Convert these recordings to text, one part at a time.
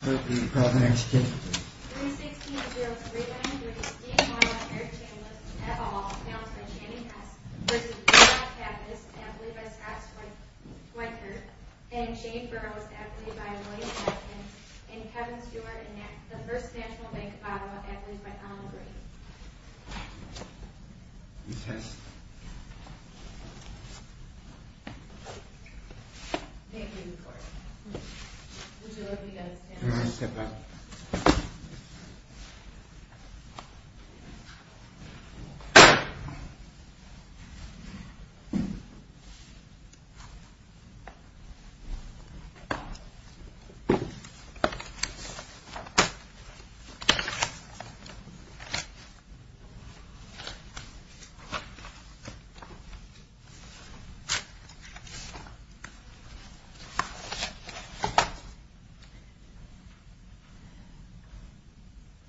316-0393 Steve Morrow and Eric Chambliss, et al. announced by Channing Hess, v. Pappas, admitted by Scott Swankert, and Shane Burrows, admitted by William Hopkins, and Kevin Stewart, in the First National Bank of Ottawa, admitted by Alan Green.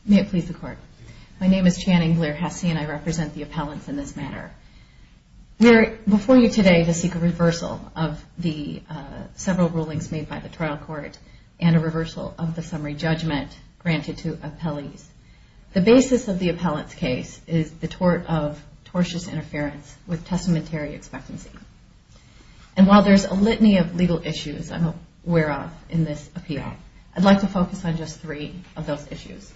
May it please the Court. My name is Channing Blair-Hesse, and I represent the appellants in this matter. We are before you today to seek a reversal of the several rulings made by the trial court and a reversal of the summary judgment granted to appellees. The basis of the appellant's case is the tort of tortious interference with testamentary expectancy. And while there is a litany of legal issues I'm aware of in this appeal, I'd like to focus on just three of those issues.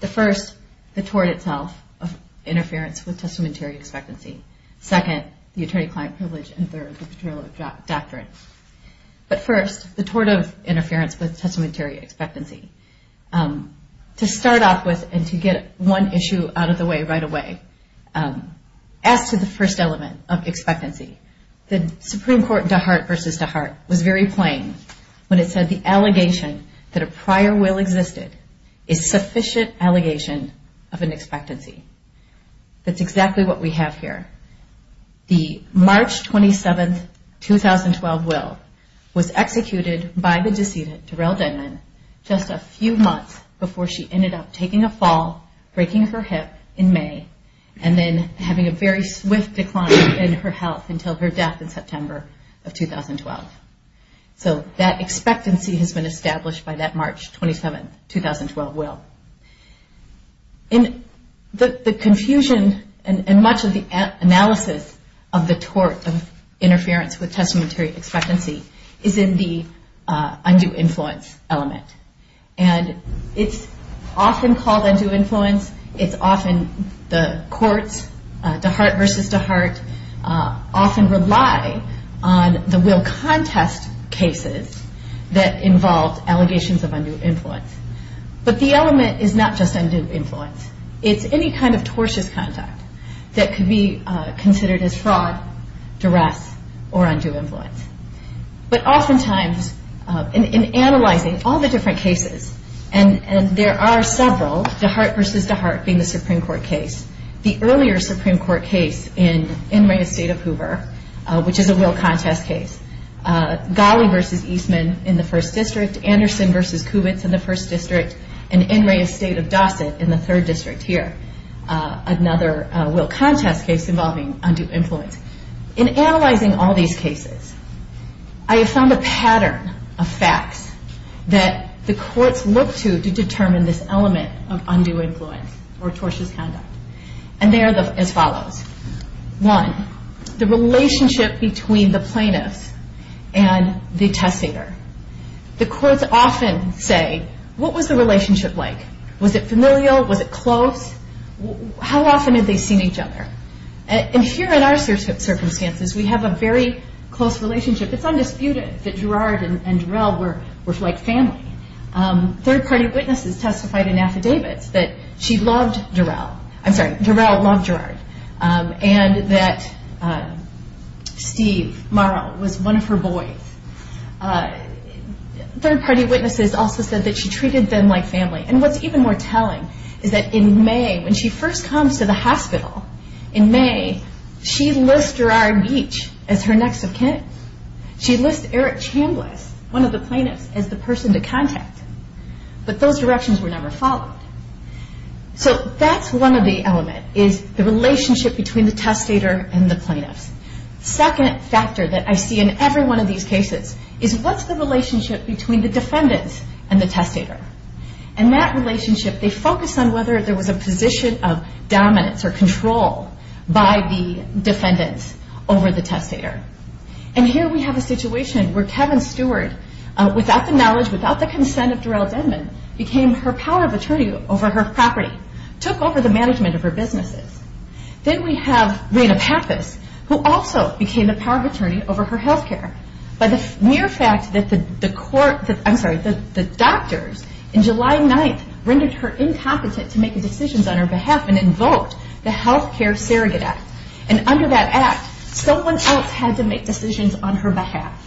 The first, the tort itself of interference with testamentary expectancy. Second, the first, the tort of interference with testamentary expectancy. To start off with and to get one issue out of the way right away, as to the first element of expectancy, the Supreme Court DeHart v. DeHart was very plain when it said the allegation that a prior will existed is sufficient allegation of an expectancy. That's exactly what we have here. The March 27, 2012 will was executed by the decedent Terrell Denman just a few months before she ended up taking a fall, breaking her hip in May, and then having a very swift decline in her health until her death in September of 2012. So that expectancy has been established by that March 27, 2012 will. And the confusion and much of the analysis of the tort of interference with testamentary expectancy is in the undue influence element. And it's often called undue influence. It's often the courts, DeHart v. DeHart, often rely on the will contest cases that involved allegations of undue influence. But the element is not just undue influence. It's any kind of tortious conduct that could be considered as fraud, duress, or undue influence. But oftentimes, in analyzing all the different cases, and there are several, DeHart v. DeHart being the Supreme Court case, the earlier Supreme Court case in the state of Hoover, which is a will contest case, Ghali v. Eastman in the first district, Anderson v. Kubitz in the first district, and Enray of State of Dawson in the third district here, another will contest case involving undue influence. In analyzing all these cases, I have found a pattern of facts that the courts look to to determine this element of undue influence or tortious conduct. And they are as follows. One, the relationship between the plaintiff and the testator. The courts often say, what was the relationship like? Was it familial? Was it close? How often had they seen each other? And here in our circumstances, we have a very close relationship. It's undisputed that Gerard and Durell were like family. Third party witnesses also said that she treated them like family. And what's even more telling is that in May, when she first comes to the hospital, in May, she lists Gerard Beach as her next of kin. She lists Eric Chambliss, one of the plaintiffs, as the person to contact. But those directions were never followed. So that's one of the elements, is the relationship between the testator and the plaintiffs. Second factor that I see in every one of these cases is what's the relationship between the defendants and the testator? And that relationship, they focus on whether there was a position of dominance or control by the defendants over the testator. And here we have a situation where Kevin Stewart, without the knowledge, without the consent of Durell Denman, became her power of attorney over her property, took over the management of her businesses. Then we have Rena Pappas, who also became the power of attorney over her healthcare. By the mere fact that the doctors in July 9th rendered her incompetent to make decisions on her behalf and invoked the Healthcare Surrogate Act. And under that Act, someone else had to make decisions on her behalf.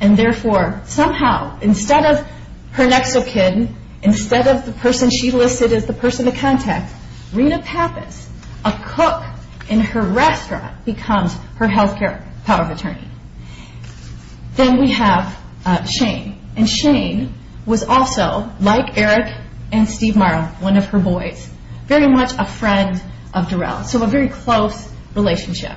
And therefore, somehow, instead of her next of kin, instead of the person she listed as the person to contact, Rena Pappas, a cook in her restaurant, becomes her healthcare power of attorney. Then we have Shane. And Shane was also, like Eric and Steve Marle, one of her boys, very much a friend of Durell. So a very close relationship.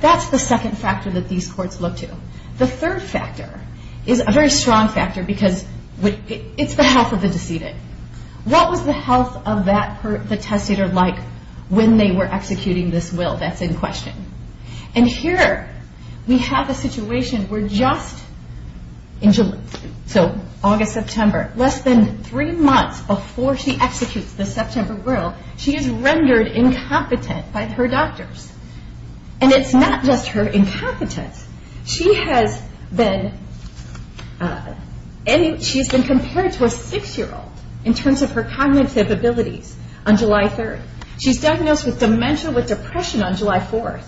That's the second factor that these courts look to. The third factor is a very strong factor because it's the health of the decedent. What was the health of the testator like when they were executing this will? That's in question. And here we have a situation where just in July, so August, September, less than three months before she executes the September will, she is rendered incompetent by her doctors. And it's not just her incompetence. She has been compared to a six-year-old in terms of her cognitive abilities on July 3rd. She's diagnosed with dementia with depression on July 4th.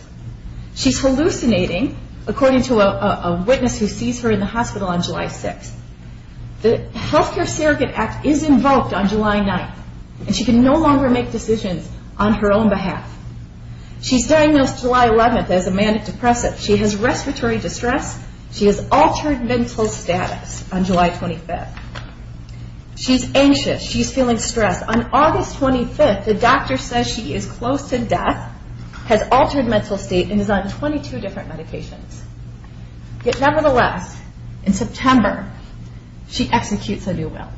She's hallucinating, according to a witness who sees her in the hospital on July 4th. She's been invoked on July 9th. And she can no longer make decisions on her own behalf. She's diagnosed July 11th as a manic-depressive. She has respiratory distress. She has altered mental status on July 25th. She's anxious. She's feeling stressed. On August 25th, the doctor says she is close to death, has altered mental state, and is on 22 different medications. Yet nevertheless, in September, she executes a new will.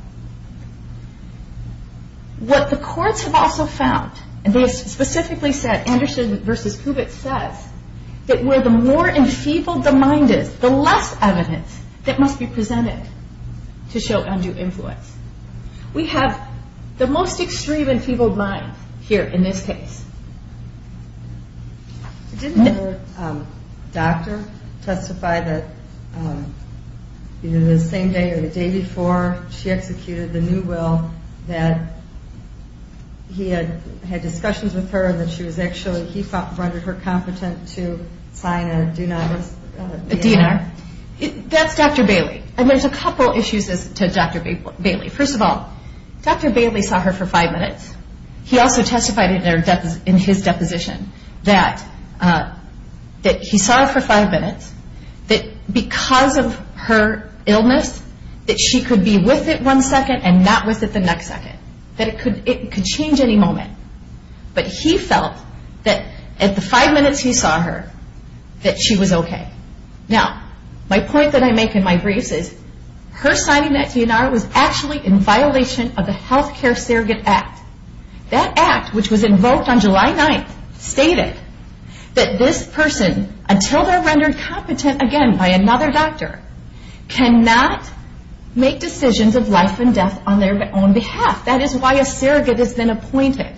What the courts have also found, and they specifically said, Anderson v. Kubitz says, that where the more enfeebled the mind is, the less evidence that must be presented to show undue influence. We have the most extreme enfeebled mind here in this case. Didn't her doctor testify that either the same day or the day before she executed the new will, that he had discussions with her and that she was actually, he rendered her competent to sign a do not risk DNR? That's Dr. Bailey. There's a couple issues to Dr. Bailey. First of all, Dr. Bailey saw her for five minutes. He also testified in his deposition that he saw her for five minutes, that because of her illness, that she could be with it one second and not with it the next second, that it could change any moment. But he felt that at the five minutes he saw her, that she was okay. Now, my point that I make in my briefs is, her signing that DNR was actually in violation of the Healthcare Surrogate Act. That act, which was invoked on July 9th, stated that this person, until they're rendered competent again by another doctor, cannot make decisions of life and death on their own behalf. That is why a surrogate has been appointed.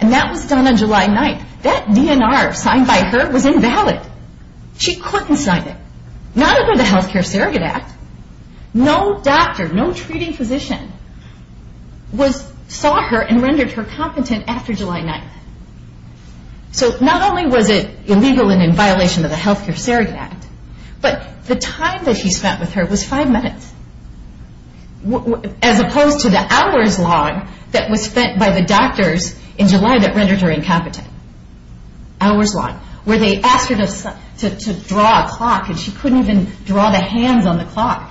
And that was done on July 9th. That DNR signed by her was invalid. She couldn't sign it. Not under the Healthcare Surrogate Act. No doctor, no treating physician, saw her and rendered her competent after July 9th. So, not only was it illegal and in violation of the Healthcare Surrogate Act, but the time that she spent with her was five minutes. As opposed to the hours long that was spent by the doctors in July that rendered her incompetent. Hours long. Where they asked her to draw a clock and she couldn't even draw the hands on the clock.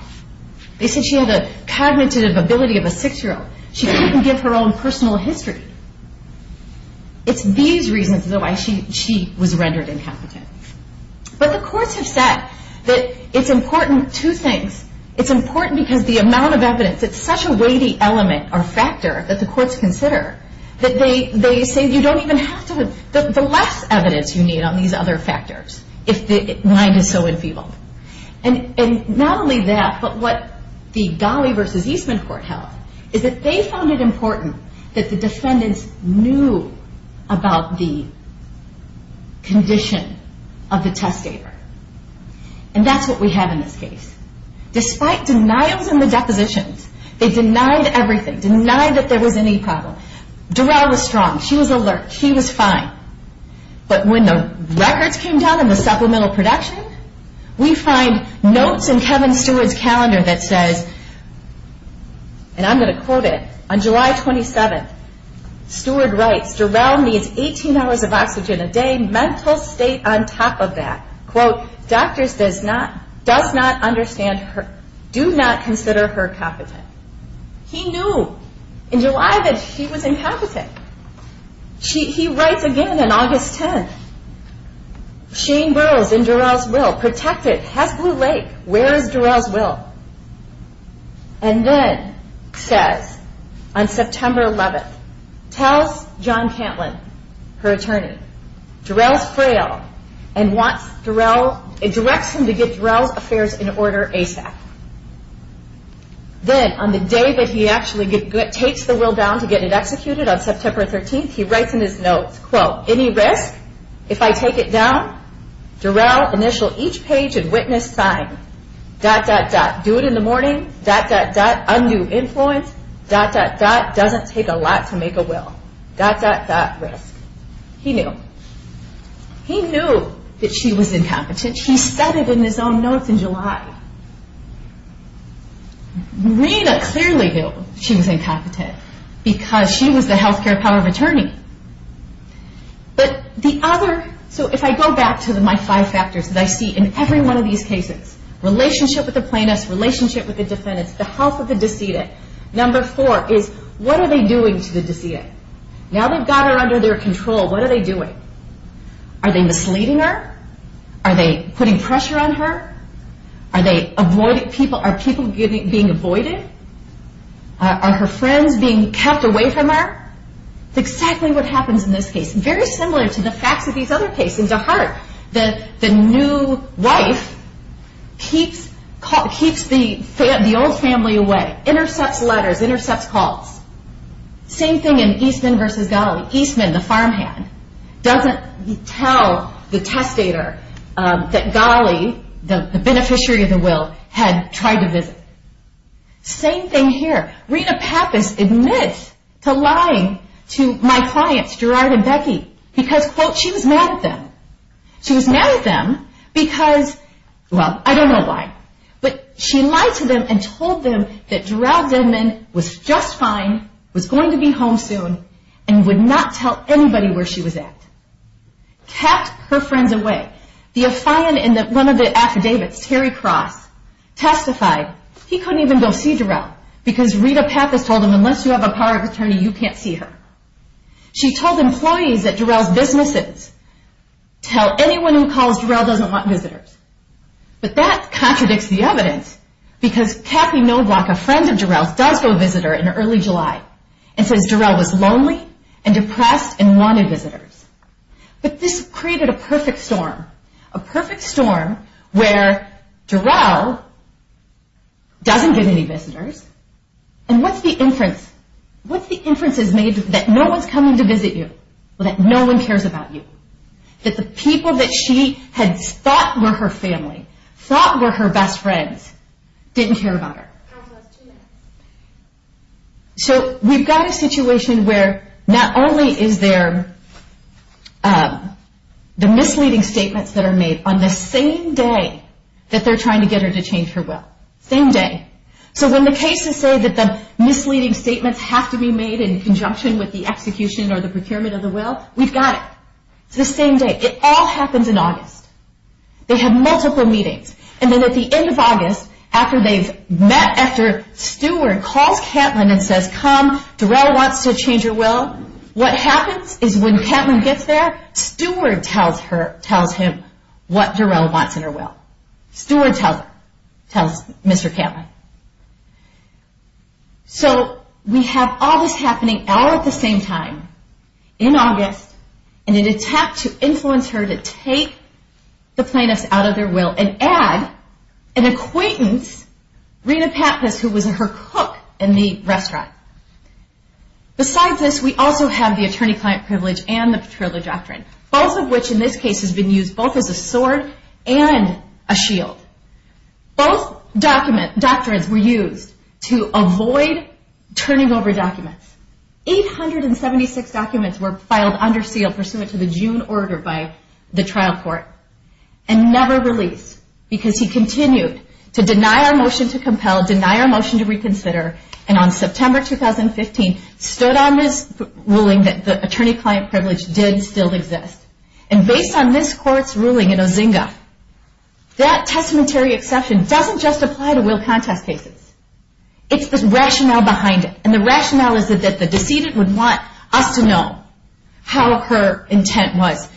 They said she had a cognitive ability of a six-year-old. She couldn't give her own personal history. It's these reasons why she was rendered incompetent. But the courts have said that it's important, two things. It's important because the amount of evidence, it's such a weighty element or factor that the courts consider, that they say you don't even have to, the less evidence you need on these other factors, if the mind is so enfeebled. And not only that, but what the Gauley v. Eastman court held, is that they found it important that the defendants knew about the condition of the testator. And that's what we have in this case. Despite denials in the depositions, they denied everything. Denied that there was any problem. Dorrell was strong. She was alert. She was fine. But when the records came down in the supplemental production, we find notes in Kevin Stewart's calendar that says, and I'm going to quote it, on July 27th, Stewart writes, Dorrell needs 18 hours of oxygen a day, mental state on top of that. Quote, doctors does not understand her, do not consider her competent. He knew in July that she was incompetent. He writes again on August 10th, Shane Burrows in Dorrell's will, protected, has Blue Lake, where is Dorrell's will? And then says, on September 11th, tells John Cantlin, her attorney, Dorrell's frail and wants Dorrell, directs him to get Dorrell's affairs in order ASAP. Then on the day that he actually takes the will down to get it executed, on September 13th, he writes in his notes, quote, any risk if I take it down? Dorrell, initial each page and witness sign. Dot, dot, dot. Do it in the morning. Dot, dot, dot. Undo influence. Dot, dot, dot. Doesn't take a lot to make a will. Dot, dot, dot. Risk. He knew. He knew that she was incompetent. He said it in his own notes in July. Rena clearly knew she was incompetent because she was the health care power of attorney. But the other, so if I go back to my five factors that I see in every one of these cases, relationship with the plaintiff, relationship with the defendant, the health of the decedent, number four is what are they doing to the decedent? Now they've got her under their control, what are they doing? Are they misleading her? Are they putting pressure on her? Are they avoiding people? Are people being avoided? Are her friends being kept away from her? That's exactly what happens in this case. Very similar to the facts of these other cases. In DeHart, the new wife keeps the old family away. Intercepts letters. Intercepts calls. Same thing in Eastman v. Ghali. Eastman, the farmhand, doesn't tell the testator that Ghali, the beneficiary of the will, had tried to visit. Same thing here. Rena Pappas admits to lying to my clients, Gerard and Becky, because quote, she was mad at them. She was mad at them because, well, I don't know why, but she lied to them and was just fine, was going to be home soon, and would not tell anybody where she was at. Kept her friends away. The affiant in one of the affidavits, Terry Cross, testified he couldn't even go see Gerard, because Rena Pappas told him, unless you have a power of attorney, you can't see her. She told employees at Gerard's businesses, tell anyone who calls Gerard doesn't want visitors. But that contradicts the evidence, because Kathy Noblock, a friend of Gerard's, does go visit her in early July, and says Gerard was lonely and depressed and wanted visitors. But this created a perfect storm. A perfect storm where Gerard doesn't give any visitors, and what's the inference? What's the inference that no one's coming to visit you? That no one cares about you. That the people that she had thought were her family, thought were her best friends, didn't care about her. So we've got a situation where not only is there the misleading statements that are made on the same day that they're trying to get her to change her will. Same day. So when the cases say that the misleading statements have to be made in conjunction with the execution or the procurement of the will, it's August. They have multiple meetings. And then at the end of August, after they've met, after Steward calls Katlyn and says, come, Darrell wants to change her will, what happens is when Katlyn gets there, Steward tells her, tells him what Darrell wants in her will. Steward tells her. Tells Mr. Katlyn. So we have all this happening all at the same time. In August. And an attack to influence her to take the plaintiffs out of their will and add an acquaintance, Rena Pappas, who was her cook in the restaurant. Besides this, we also have the attorney-client privilege and the patrol of doctrine. Both of which in this case has been used both as a sword and a shield. Both documents, doctrines were used to avoid turning over documents. 876 documents were filed under seal pursuant to the June order by the trial court and never released because he continued to deny our motion to compel, deny our motion to reconsider. And on September 2015, stood on this ruling that the attorney-client privilege did still exist. And based on this court's ruling in this case, it's the rationale behind it. And the rationale is that the decedent would want us to know how her intent was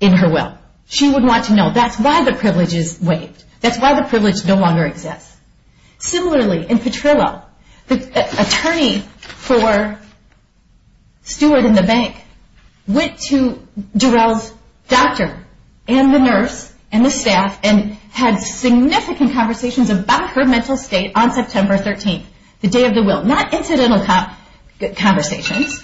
in her will. She would want to know. That's why the privilege is waived. That's why the privilege no longer exists. Similarly, in Petrillo, the attorney for Steward and the bank went to Darrell's doctor and the nurse and the staff and had significant conversations about her mental state on September 13th, the day of the will. Not incidental conversations.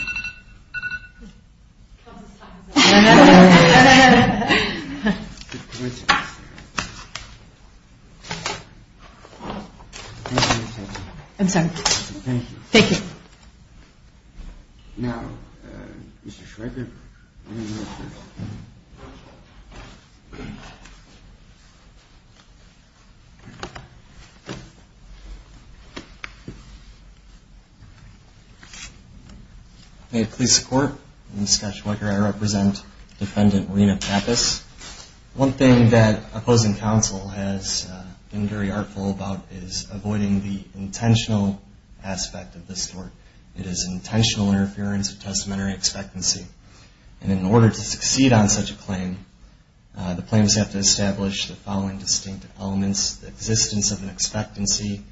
I'm sorry. Thank you. Now, Mr. Shreker. May it please the court. I'm Scott Shreker. I represent Defendant Rena Pappas. One thing that opposing counsel has been very artful about is avoiding the intentional aspect of this court. It is intentional interference of testamentary expectancy. And in order to do that, the plaintiffs have to establish the following distinct elements. The existence of an expectancy.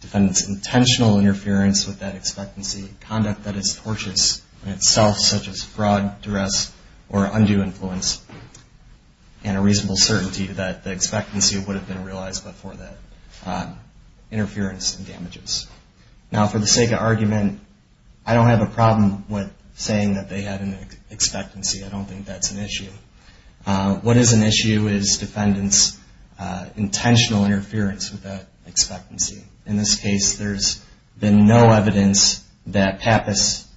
Defendant's intentional interference with that expectancy. Conduct that is tortious in itself, such as fraud, duress, or undue influence. And a reasonable certainty that the expectancy would have been realized before that interference and damages. Now for the sake of argument, I don't have a problem with saying that they had an expectancy. I don't think that's an issue. What is an issue is defendant's intentional interference with that expectancy. In this case, there's been no evidence that Pappas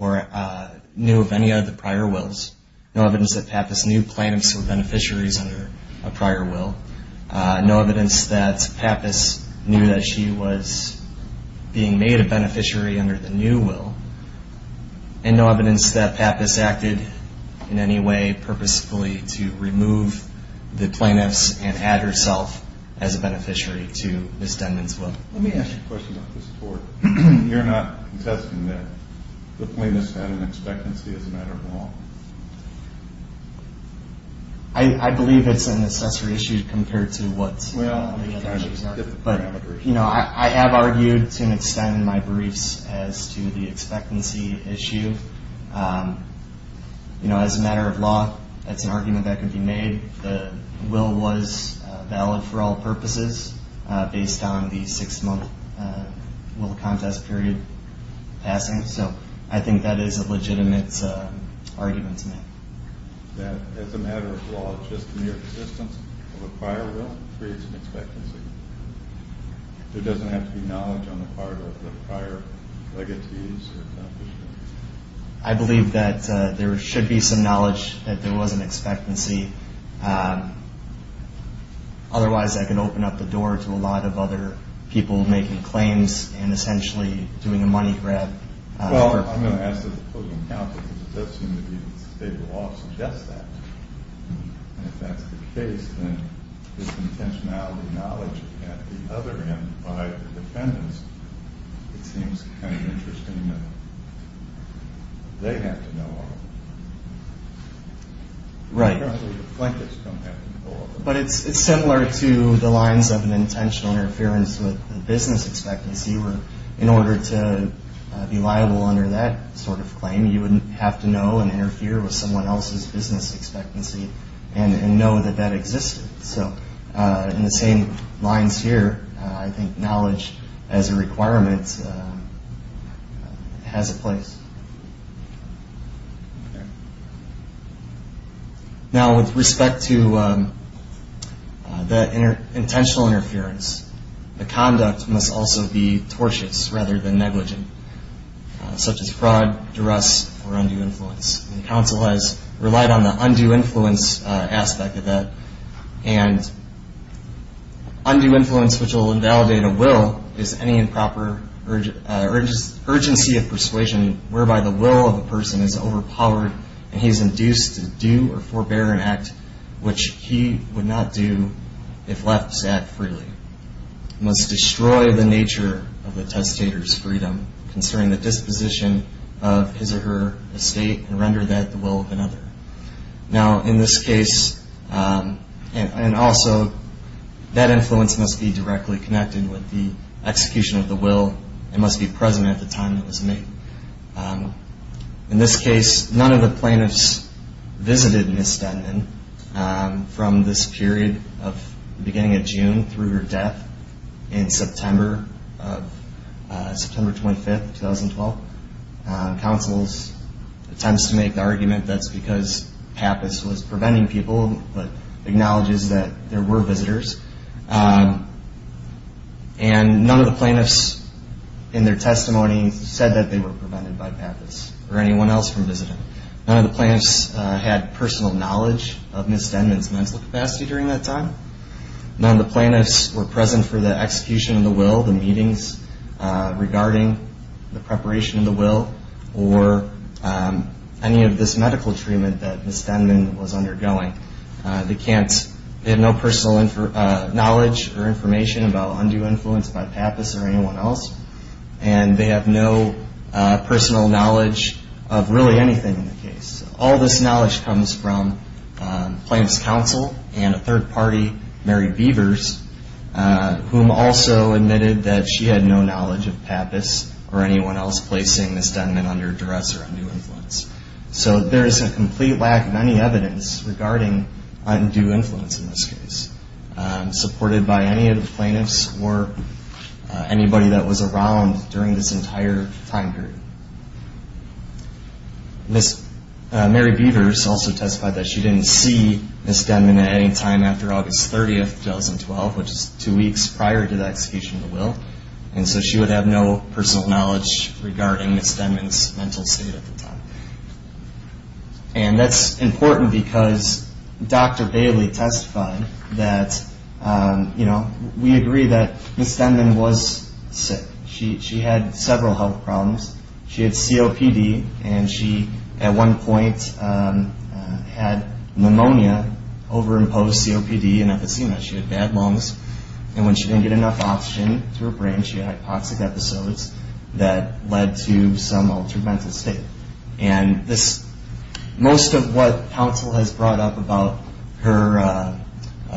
knew of any of the prior wills. No evidence that Pappas knew plaintiffs were beneficiaries under a prior will. No evidence that Pappas knew that she was being made a beneficiary under the new will. And no evidence that Pappas acted in any way purposefully to remove the plaintiffs and add herself as a beneficiary to Ms. Denman's will. Let me ask you a question about this court. You're not contesting that the plaintiffs had an expectancy as a matter of law. I believe it's a necessary issue compared to what the other judges argued. Well, you get the parameters. I have argued to an extent in my briefs as to the expectancy issue. As a matter of law, it's an argument that could be made. The will was valid for all purposes based on the six month will contest period passing. So I think that is a legitimate argument to make. That as a matter of law, just the mere existence of a prior will creates an expectancy. There doesn't have to be knowledge on the part of the prior legacies or beneficiaries. I believe that there should be some knowledge that there was an expectancy. Otherwise, that could open up the door to a lot of other people making claims and essentially doing a money grab. Well, I'm going to ask the opposing counsel because it does seem to be the state of law to suggest that. And if that's the case, then this intentionality knowledge at the other end by the defendants, it seems kind of interesting that they have to know all of it. Right. Apparently the plaintiffs don't have to know all of it. But it's similar to the lines of an intentional interference with the business expectancy where in order to be liable under that sort of claim, you would have to know and interfere with someone else's business expectancy and know that that existed. So in the same lines here, I think knowledge as a requirement has a place. Now with respect to the intentional interference, the conduct must also be tortious rather than lenient. Counsel has relied on the undue influence aspect of that. And undue influence, which will invalidate a will, is any improper urgency of persuasion whereby the will of a person is overpowered and he is induced to do or forbear an act which he would not do if left sat freely. Must destroy the nature of the testator's freedom concerning the disposition of his or her estate and render that the will of another. Now in this case, and also, that influence must be directly connected with the execution of the will and must be present at the time it was made. In this case, none of the plaintiffs visited Ms. Stetman from this period of the beginning of June through her death in September of, September 25th, 2012. Counsel's attempts to make the argument that's because Pappas was preventing people, but acknowledges that there were visitors. And none of the plaintiffs in their testimony said that they were prevented by Pappas or anyone else from visiting. None of the plaintiffs had personal knowledge of Ms. Stetman's mental capacity during that time. None of the plaintiffs were present for the execution of the will, the meetings regarding the preparation of the will, or any of this medical treatment that Ms. Stetman was undergoing. They can't, they have no personal knowledge or information about undue influence by Pappas or anyone else. And they have no personal knowledge of really anything in the case. All this knowledge comes from plaintiff's counsel and a third party, Mary Beavers, whom also admitted that she had no knowledge of Pappas or anyone else placing Ms. Stetman under duress or undue influence. So there is a complete lack of any evidence regarding undue influence in this case, supported by any of the plaintiffs or anybody that was around during this entire time period. Ms. Mary Beavers also testified that she didn't see Ms. Stetman at any time after August 30th, 2012, which is two weeks prior to the execution of the will. And so she would have no personal knowledge regarding Ms. Stetman's mental state at the time. And that's important because Dr. Bailey testified that, you know, we agree that Ms. Stetman was sick. She had several health problems. She had COPD and she at one point had pneumonia, over-imposed COPD and Episema. She had bad lungs and when she didn't get enough oxygen to her brain, she had hypoxic episodes that led to some altered mental state. And this, most of what counsel has brought up about her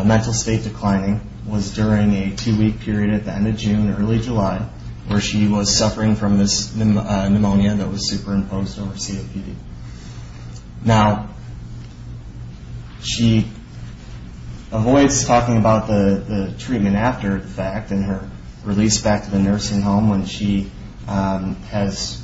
mental state declining was during a two-week period at the end of June, early July, where she was suffering from this pneumonia that was superimposed over COPD. Now, she avoids talking about the treatment after the fact and her release back to the nursing home when she has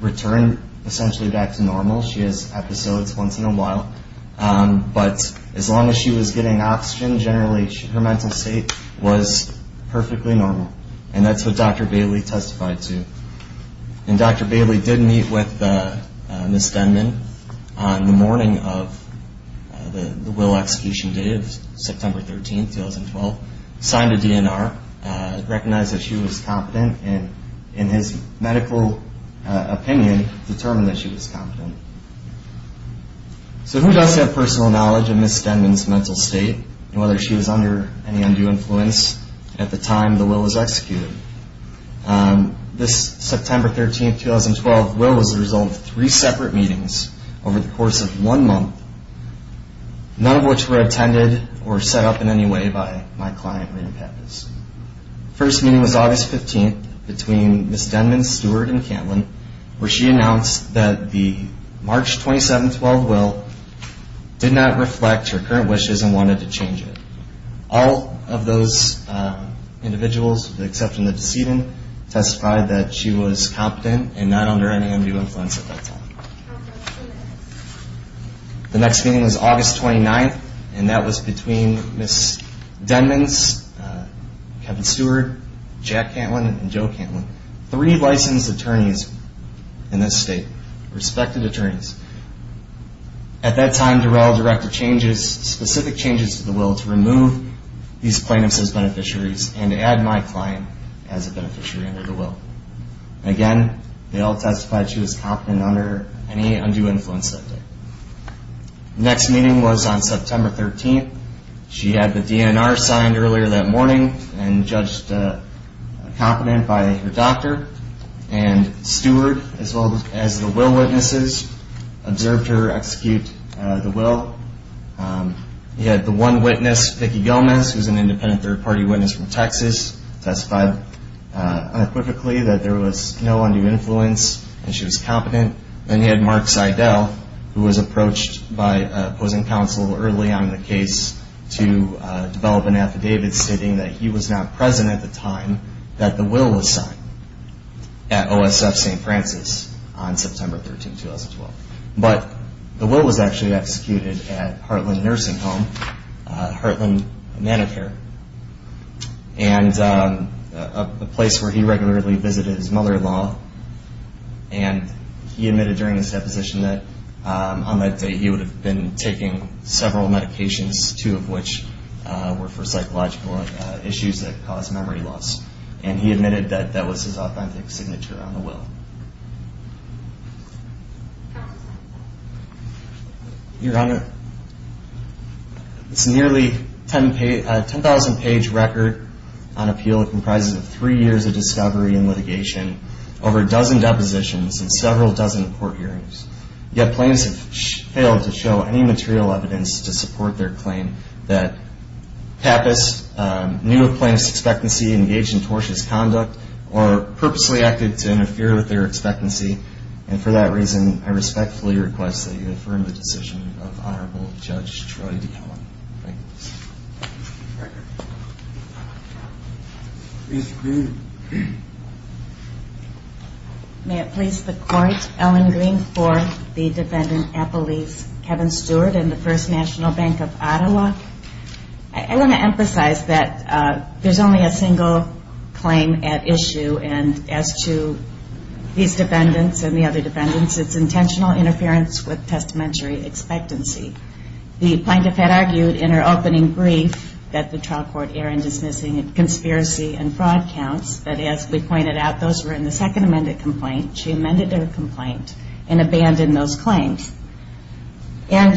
returned essentially back to normal. She has episodes once in a while. But as long as she was getting oxygen, generally her mental state was perfectly normal. And that's what Dr. Bailey testified to. And Dr. Bailey did meet with Ms. Stetman on the morning of the will execution date of September 13, 2012, signed a DNR, recognized that she was competent and in his medical opinion determined that she was competent. So who does have personal knowledge of Ms. Stetman's mental state and whether she was under any undue influence at the time the will was executed? This September 13, 2012 will was the result of three separate meetings over the course of one month, none of which were attended or set up in any way by my client, Rita Pappas. First meeting was August 15 between Ms. Denman, Stewart, and Cantlin, where she announced that the March 27, 2012 will did not reflect her current wishes and wanted to change it. All of those individuals, except for the decedent, testified that she was competent and not under any undue influence at that time. The next meeting was August 29, and that was between Ms. Denman, Kevin Stewart, Jack Cantlin, and Joe Cantlin, three licensed attorneys in this state, respected attorneys. At that time, Durell directed specific changes to the will to remove these plaintiffs as beneficiaries and to add my client as a beneficiary under the will. Again, they all testified she was competent under any undue influence that day. Next meeting was on September 13. She had the DNR signed earlier that morning and judged competent by her doctor and steward as well as the will witnesses, observed her execute the will. He had the one witness, Vicki Gomez, who is an independent third-party witness from Texas, testified unequivocally that there was no undue influence and she was competent. Then he had Mark Seidel, who was approached by opposing counsel early on in the case to develop an affidavit stating that he was not present at the time that the will was on September 13, 2012. But the will was actually executed at Heartland Nursing Home, Heartland Medicare, and a place where he regularly visited his mother-in-law, and he admitted during his deposition that on that day he would have been taking several medications, two of which were for psychological issues that caused memory loss. And he admitted that that was his authentic signature on the will. Your Honor, this nearly 10,000-page record on appeal comprises of three years of discovery and litigation, over a dozen depositions, and several dozen court hearings. Yet plaintiffs have failed to show any material evidence to support their claim that Pappas knew of plaintiff's expectancy, engaged in tortious conduct, or purposely acted to interfere with their expectancy. And for that reason, I respectfully request that you affirm the decision of Honorable Judge Troy D. Cohen. May it please the Court, Ellen Green for the defendant, Apple Leafs, Kevin Stewart, and the First National Bank of Ottawa. I want to emphasize that there's only a single claim at issue, and as to these defendants and the other defendants, it's intentional interference with testamentary expectancy. The plaintiff had argued in her opening brief that the trial court error in dismissing conspiracy and fraud counts, that as we pointed out, those were in the second amended complaint. She amended her complaint and abandoned those claims. And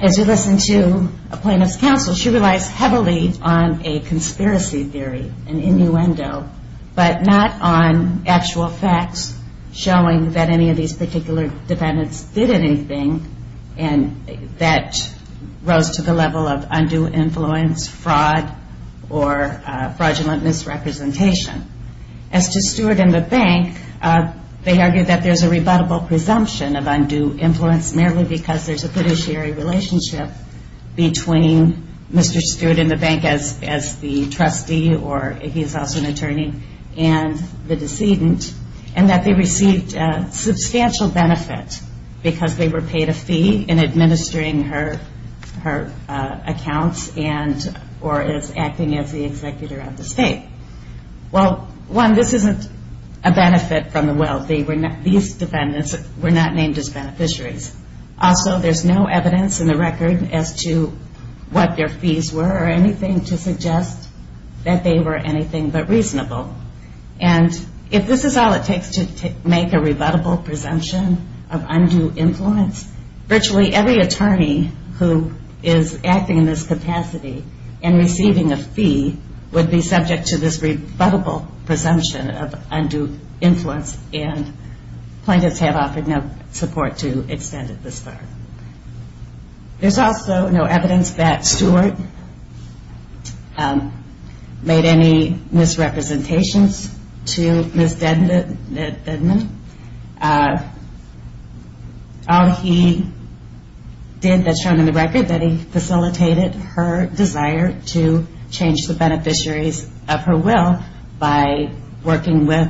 as you listen to a plaintiff's counsel, she relies heavily on a conspiracy theory, an innuendo, but not on actual facts showing that any of these particular defendants did anything, and that rose to the level of undue influence, fraud, or fraudulent misrepresentation. As to Stewart and the bank, they argued that there's a rebuttable presumption of undue influence merely because there's a fiduciary relationship between Mr. Stewart and the bank as the trustee, or he's also an attorney, and the decedent, and that they received substantial benefit because they were paid a fee in administering her accounts and, or as acting as the executor of the state. Well, one, this isn't a benefit from the wealthy. These defendants were not named as beneficiaries. Also, there's no evidence in the record as to what their fees were or anything to suggest that they were anything but reasonable. And if this is all it takes to make a rebuttable presumption of undue influence, virtually every attorney who is acting in this capacity and receiving a fee would be subject to this rebuttable presumption of undue influence, and plaintiffs have offered no support to extend it this far. There's also no evidence that Stewart made any misrepresentations to Ms. Dedman. All he did, that's shown in the record, that he facilitated her desire to change the beneficiaries of her will by working with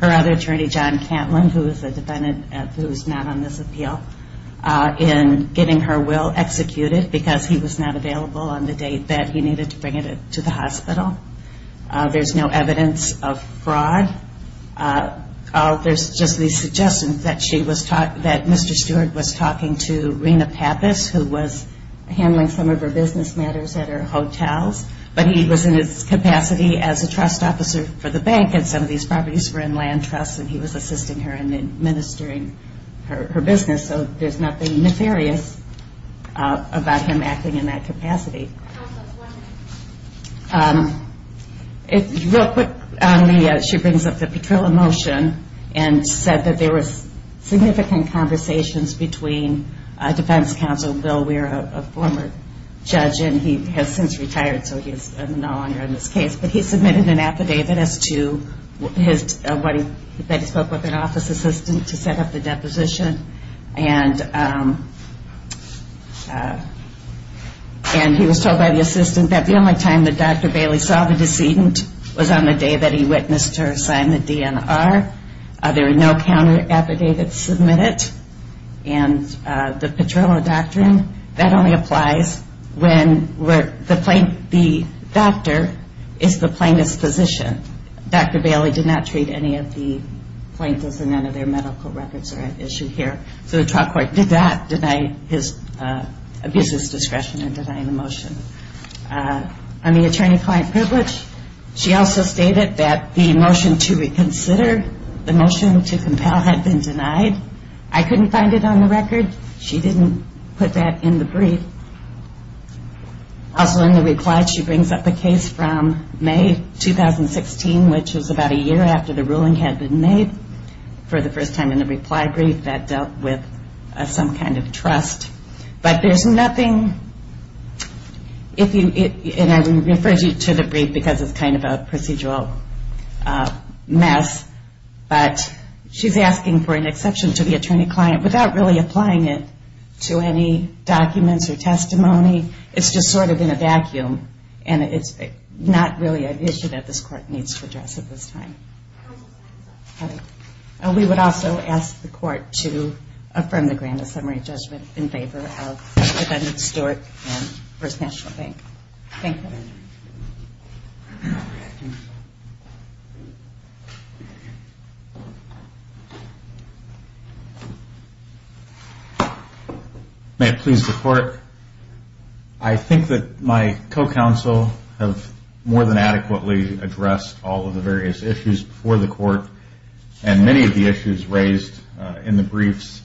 her other attorney, John Cantlin, who is a defendant who is not on this appeal, in getting her will executed because he was not available on the date that he needed to bring it to the hospital. There's no evidence of fraud. There's just the suggestion that she was talking, that Mr. Stewart was talking to Rena Pappas who was handling some of her business matters at her hotels, but he was in his capacity as a trust officer for the bank and some of these properties were in land trusts and he was assisting her in administering her business, so there's nothing nefarious about him acting in that capacity. Real quick, she brings up the Petrillo motion and said that there was significant conversations between defense counsel Bill Weir, a former judge, and he has since retired so he is no longer involved in the Petrillo case. Bill Weir spoke with an office assistant to set up the deposition and he was told by the assistant that the only time that Dr. Bailey saw the decedent was on the day that he witnessed her sign the DNR. There were no counter-affidavits submitted and the Petrillo doctrine, that only applies when the doctor is the plaintiff's physician. Dr. Bailey did not treat any of the plaintiffs and none of their medical records are at issue here, so the trial court did not deny his, abuse his discretion in denying the motion. On the attorney-client privilege, she also stated that the motion to reconsider, the motion to compel had been denied. I couldn't find it on the record. She didn't put that in the brief. Also in the reply, she brings up a case from May 2016, which is about a year after the ruling had been made for the first time in the reply brief that dealt with some kind of trust, but there's nothing, and I refer you to the brief because it's kind of a procedural mess, but she's asking for an exception to the attorney-client without really applying it to any documents or testimony. It's just sort of in a vacuum and it's not really an issue that this court needs to address at this time. We would also ask the court to affirm the grand summary judgment in favor of defendant Stewart and First National Bank. Thank you. May it please the court, I think that my co-counsel have more than adequately addressed all of the various issues before the court, and many of the issues raised in the briefs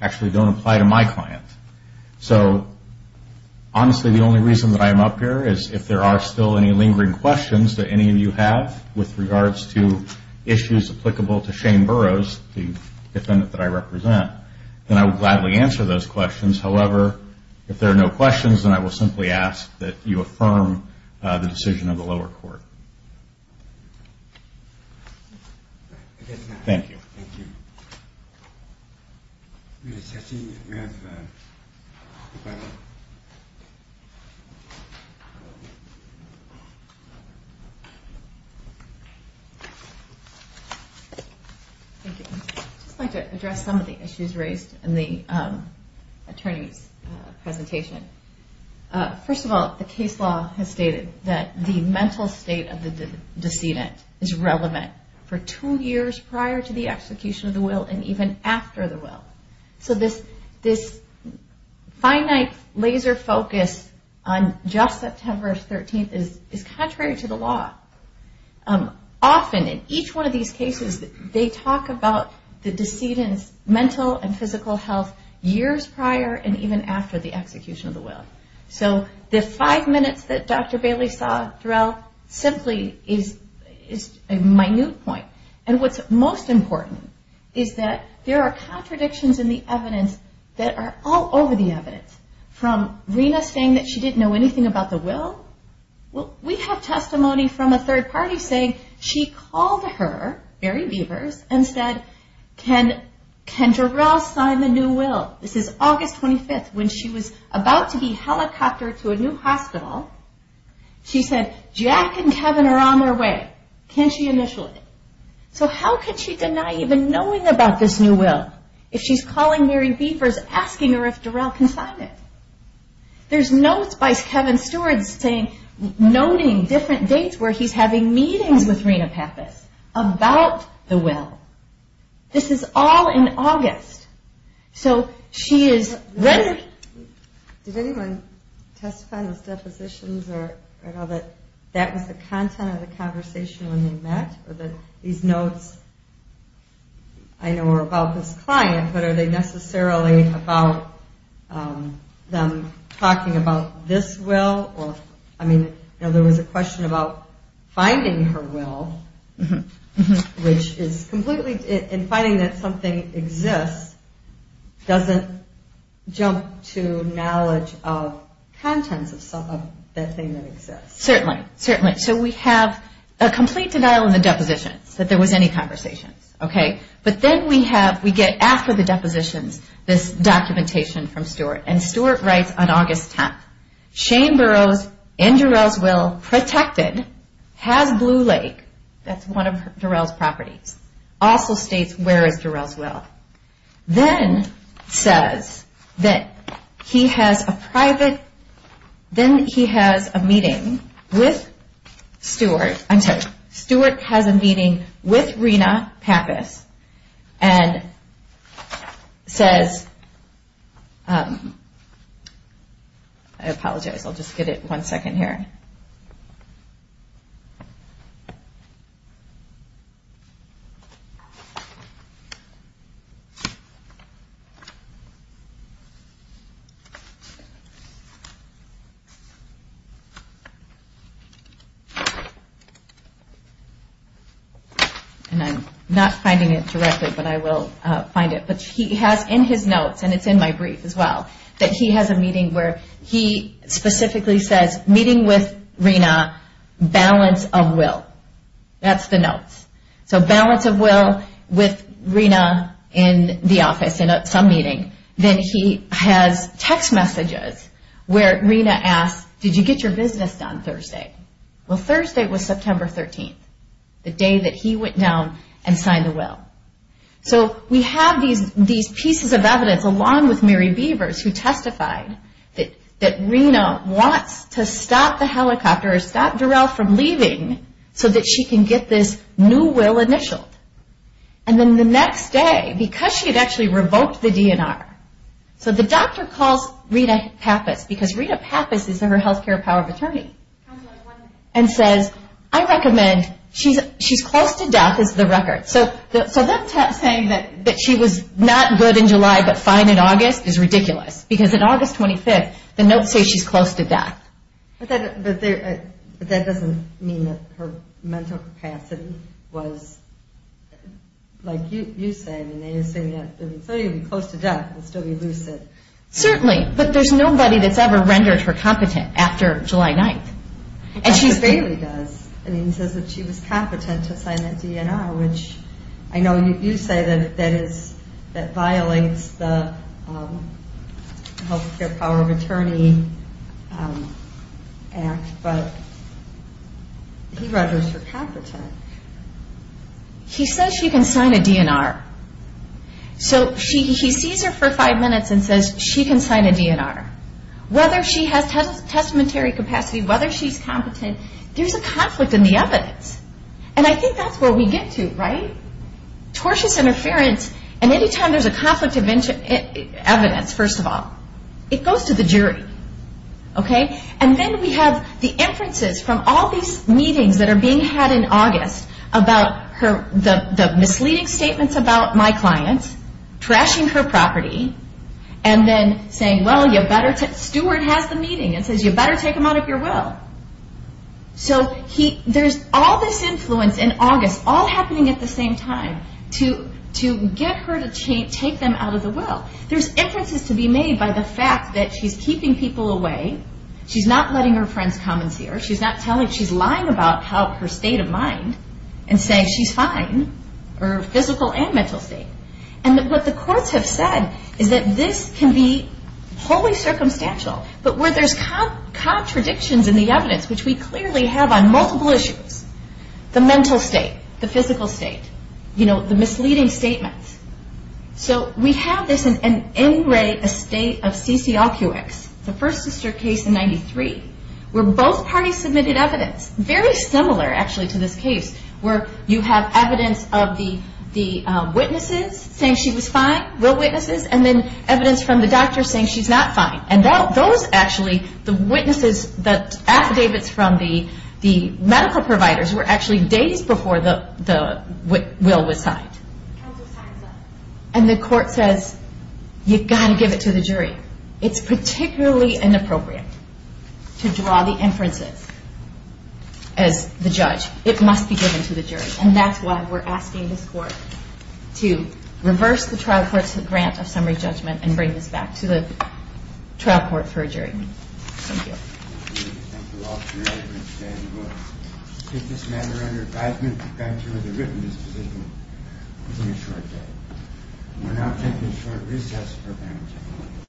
actually don't apply to my client. So honestly, the only reason that I'm up here is if there are still any lingering questions that any of you have with regards to issues applicable to Shane Burroughs, the defendant that I represent, then I will gladly answer those questions. However, if there are no questions, then I will simply ask that you affirm the decision of the lower court. Thank you. Thank you. I'd just like to address some of the issues raised in the attorney's presentation. First of all, the case law has stated that the mental state of the decedent is relevant for two years prior to the execution of the will and even after the will. So this finite laser focus on just September 13th is contrary to the law. Often in each one of these cases, they talk about the decedent's mental and physical health years prior and even after the execution of the will. So the five minutes that Dr. Bailey saw Jarrell simply is a minute point. And what's most important is that there are contradictions in the evidence that are all over the evidence. From Rena saying that she didn't know anything about the will, we have testimony from a third party saying she called her, Barry Beavers, and said, can Jarrell sign the new will? This is August 25th when she was about to be helicoptered to a new hospital. She said, Jack and Kevin are on their way. Can she initial it? So how can she deny even knowing about this new will if she's calling Barry Beavers asking her if Jarrell can sign it? There's notes by Kevin Stewart saying, noting different dates where he's having meetings with Rena Pappas about the will. This is all in August. Did anyone testify in those depositions that that was the content of the conversation when they met? These notes I know are about this client, but are they necessarily about them talking about this will? There was a question about finding her will, which is completely, and finding that something exists doesn't jump to knowledge of contents of that thing that exists. Certainly. So we have a complete denial in the depositions that there was any conversation. But then we get, after the depositions, this documentation from Stewart. And Stewart writes on August 10th, Shane Burroughs, in Jarrell's will, protected, has Blue Lake, that's one of Jarrell's properties, also states where is Jarrell's will. Then he has a private, then he has a meeting with Stewart, I'm sorry, Stewart has a meeting with Rena Pappas and says, I apologize, I'll just get it one second here. And I'm not finding it directly, but I will find it, but he has in his notes, and it's in my brief as well, that he has a meeting where he specifically says, meeting with Rena, balance of will, that's the notes. So balance of will with Rena in the office in some meeting. Then he has text messages where Rena asks, did you get your business done Thursday? Well, Thursday was September 13th, the day that he went down and signed the will. So we have these pieces of evidence, along with Mary Beavers, who testified that Rena wants to stop the helicopter, stop Jarrell from leaving, so that she can get this new will initialed. And then the next day, because she had actually revoked the DNR, so the doctor calls Rena Pappas, because Rena Pappas is her healthcare power of attorney, and says, I recommend, she's close to death is the record. So them saying that she was not good in July, but fine in August is ridiculous, because in August 25th, the notes say she's close to death. But that doesn't mean that her mental capacity was, like you say, close to death and still be lucid. Certainly, but there's nobody that's ever rendered her competent after July 9th. Dr. Bailey does. He says that she was competent to sign that DNR, which I know you say that violates the healthcare power of attorney act, but he renders her competent. He says she can sign a DNR. So he sees her for five minutes and says, she can sign a DNR. Whether she has testamentary capacity, whether she's competent, there's a conflict in the evidence. And I think that's where we get to, right? Tortious interference, and any time there's a conflict of evidence, first of all, it goes to the jury. And then we have the inferences from all these meetings that are being had in August about the misleading statements about my clients, trashing her property, and then saying, well, you better, Stewart has the meeting and says you better take them out of your will. So there's all this influence in August, all happening at the same time, to get her to take them out of the will. There's inferences to be made by the fact that she's keeping people away, she's not letting her friends come and see her, she's lying about her state of mind, and saying she's fine, her physical and mental state. And what the courts have said is that this can be wholly circumstantial, but where there's contradictions in the evidence, which we clearly have on multiple issues, the mental state, the physical state, the misleading statements. So we have this in an NRA estate of CCLQX, the first sister case in 93, where both parties submitted evidence, very similar actually to this case, where you have evidence of the witnesses saying she was fine, real witnesses, and then evidence from the doctor saying she's not fine. And those actually, the witnesses, the affidavits from the medical providers were actually days before the will was signed. And the court says, you've got to give it to the jury. It's particularly inappropriate to draw the inferences as the judge. It must be given to the jury. And that's why we're asking this court to reverse the trial court's grant of summary judgment and bring this back to the trial court for a jury. Thank you.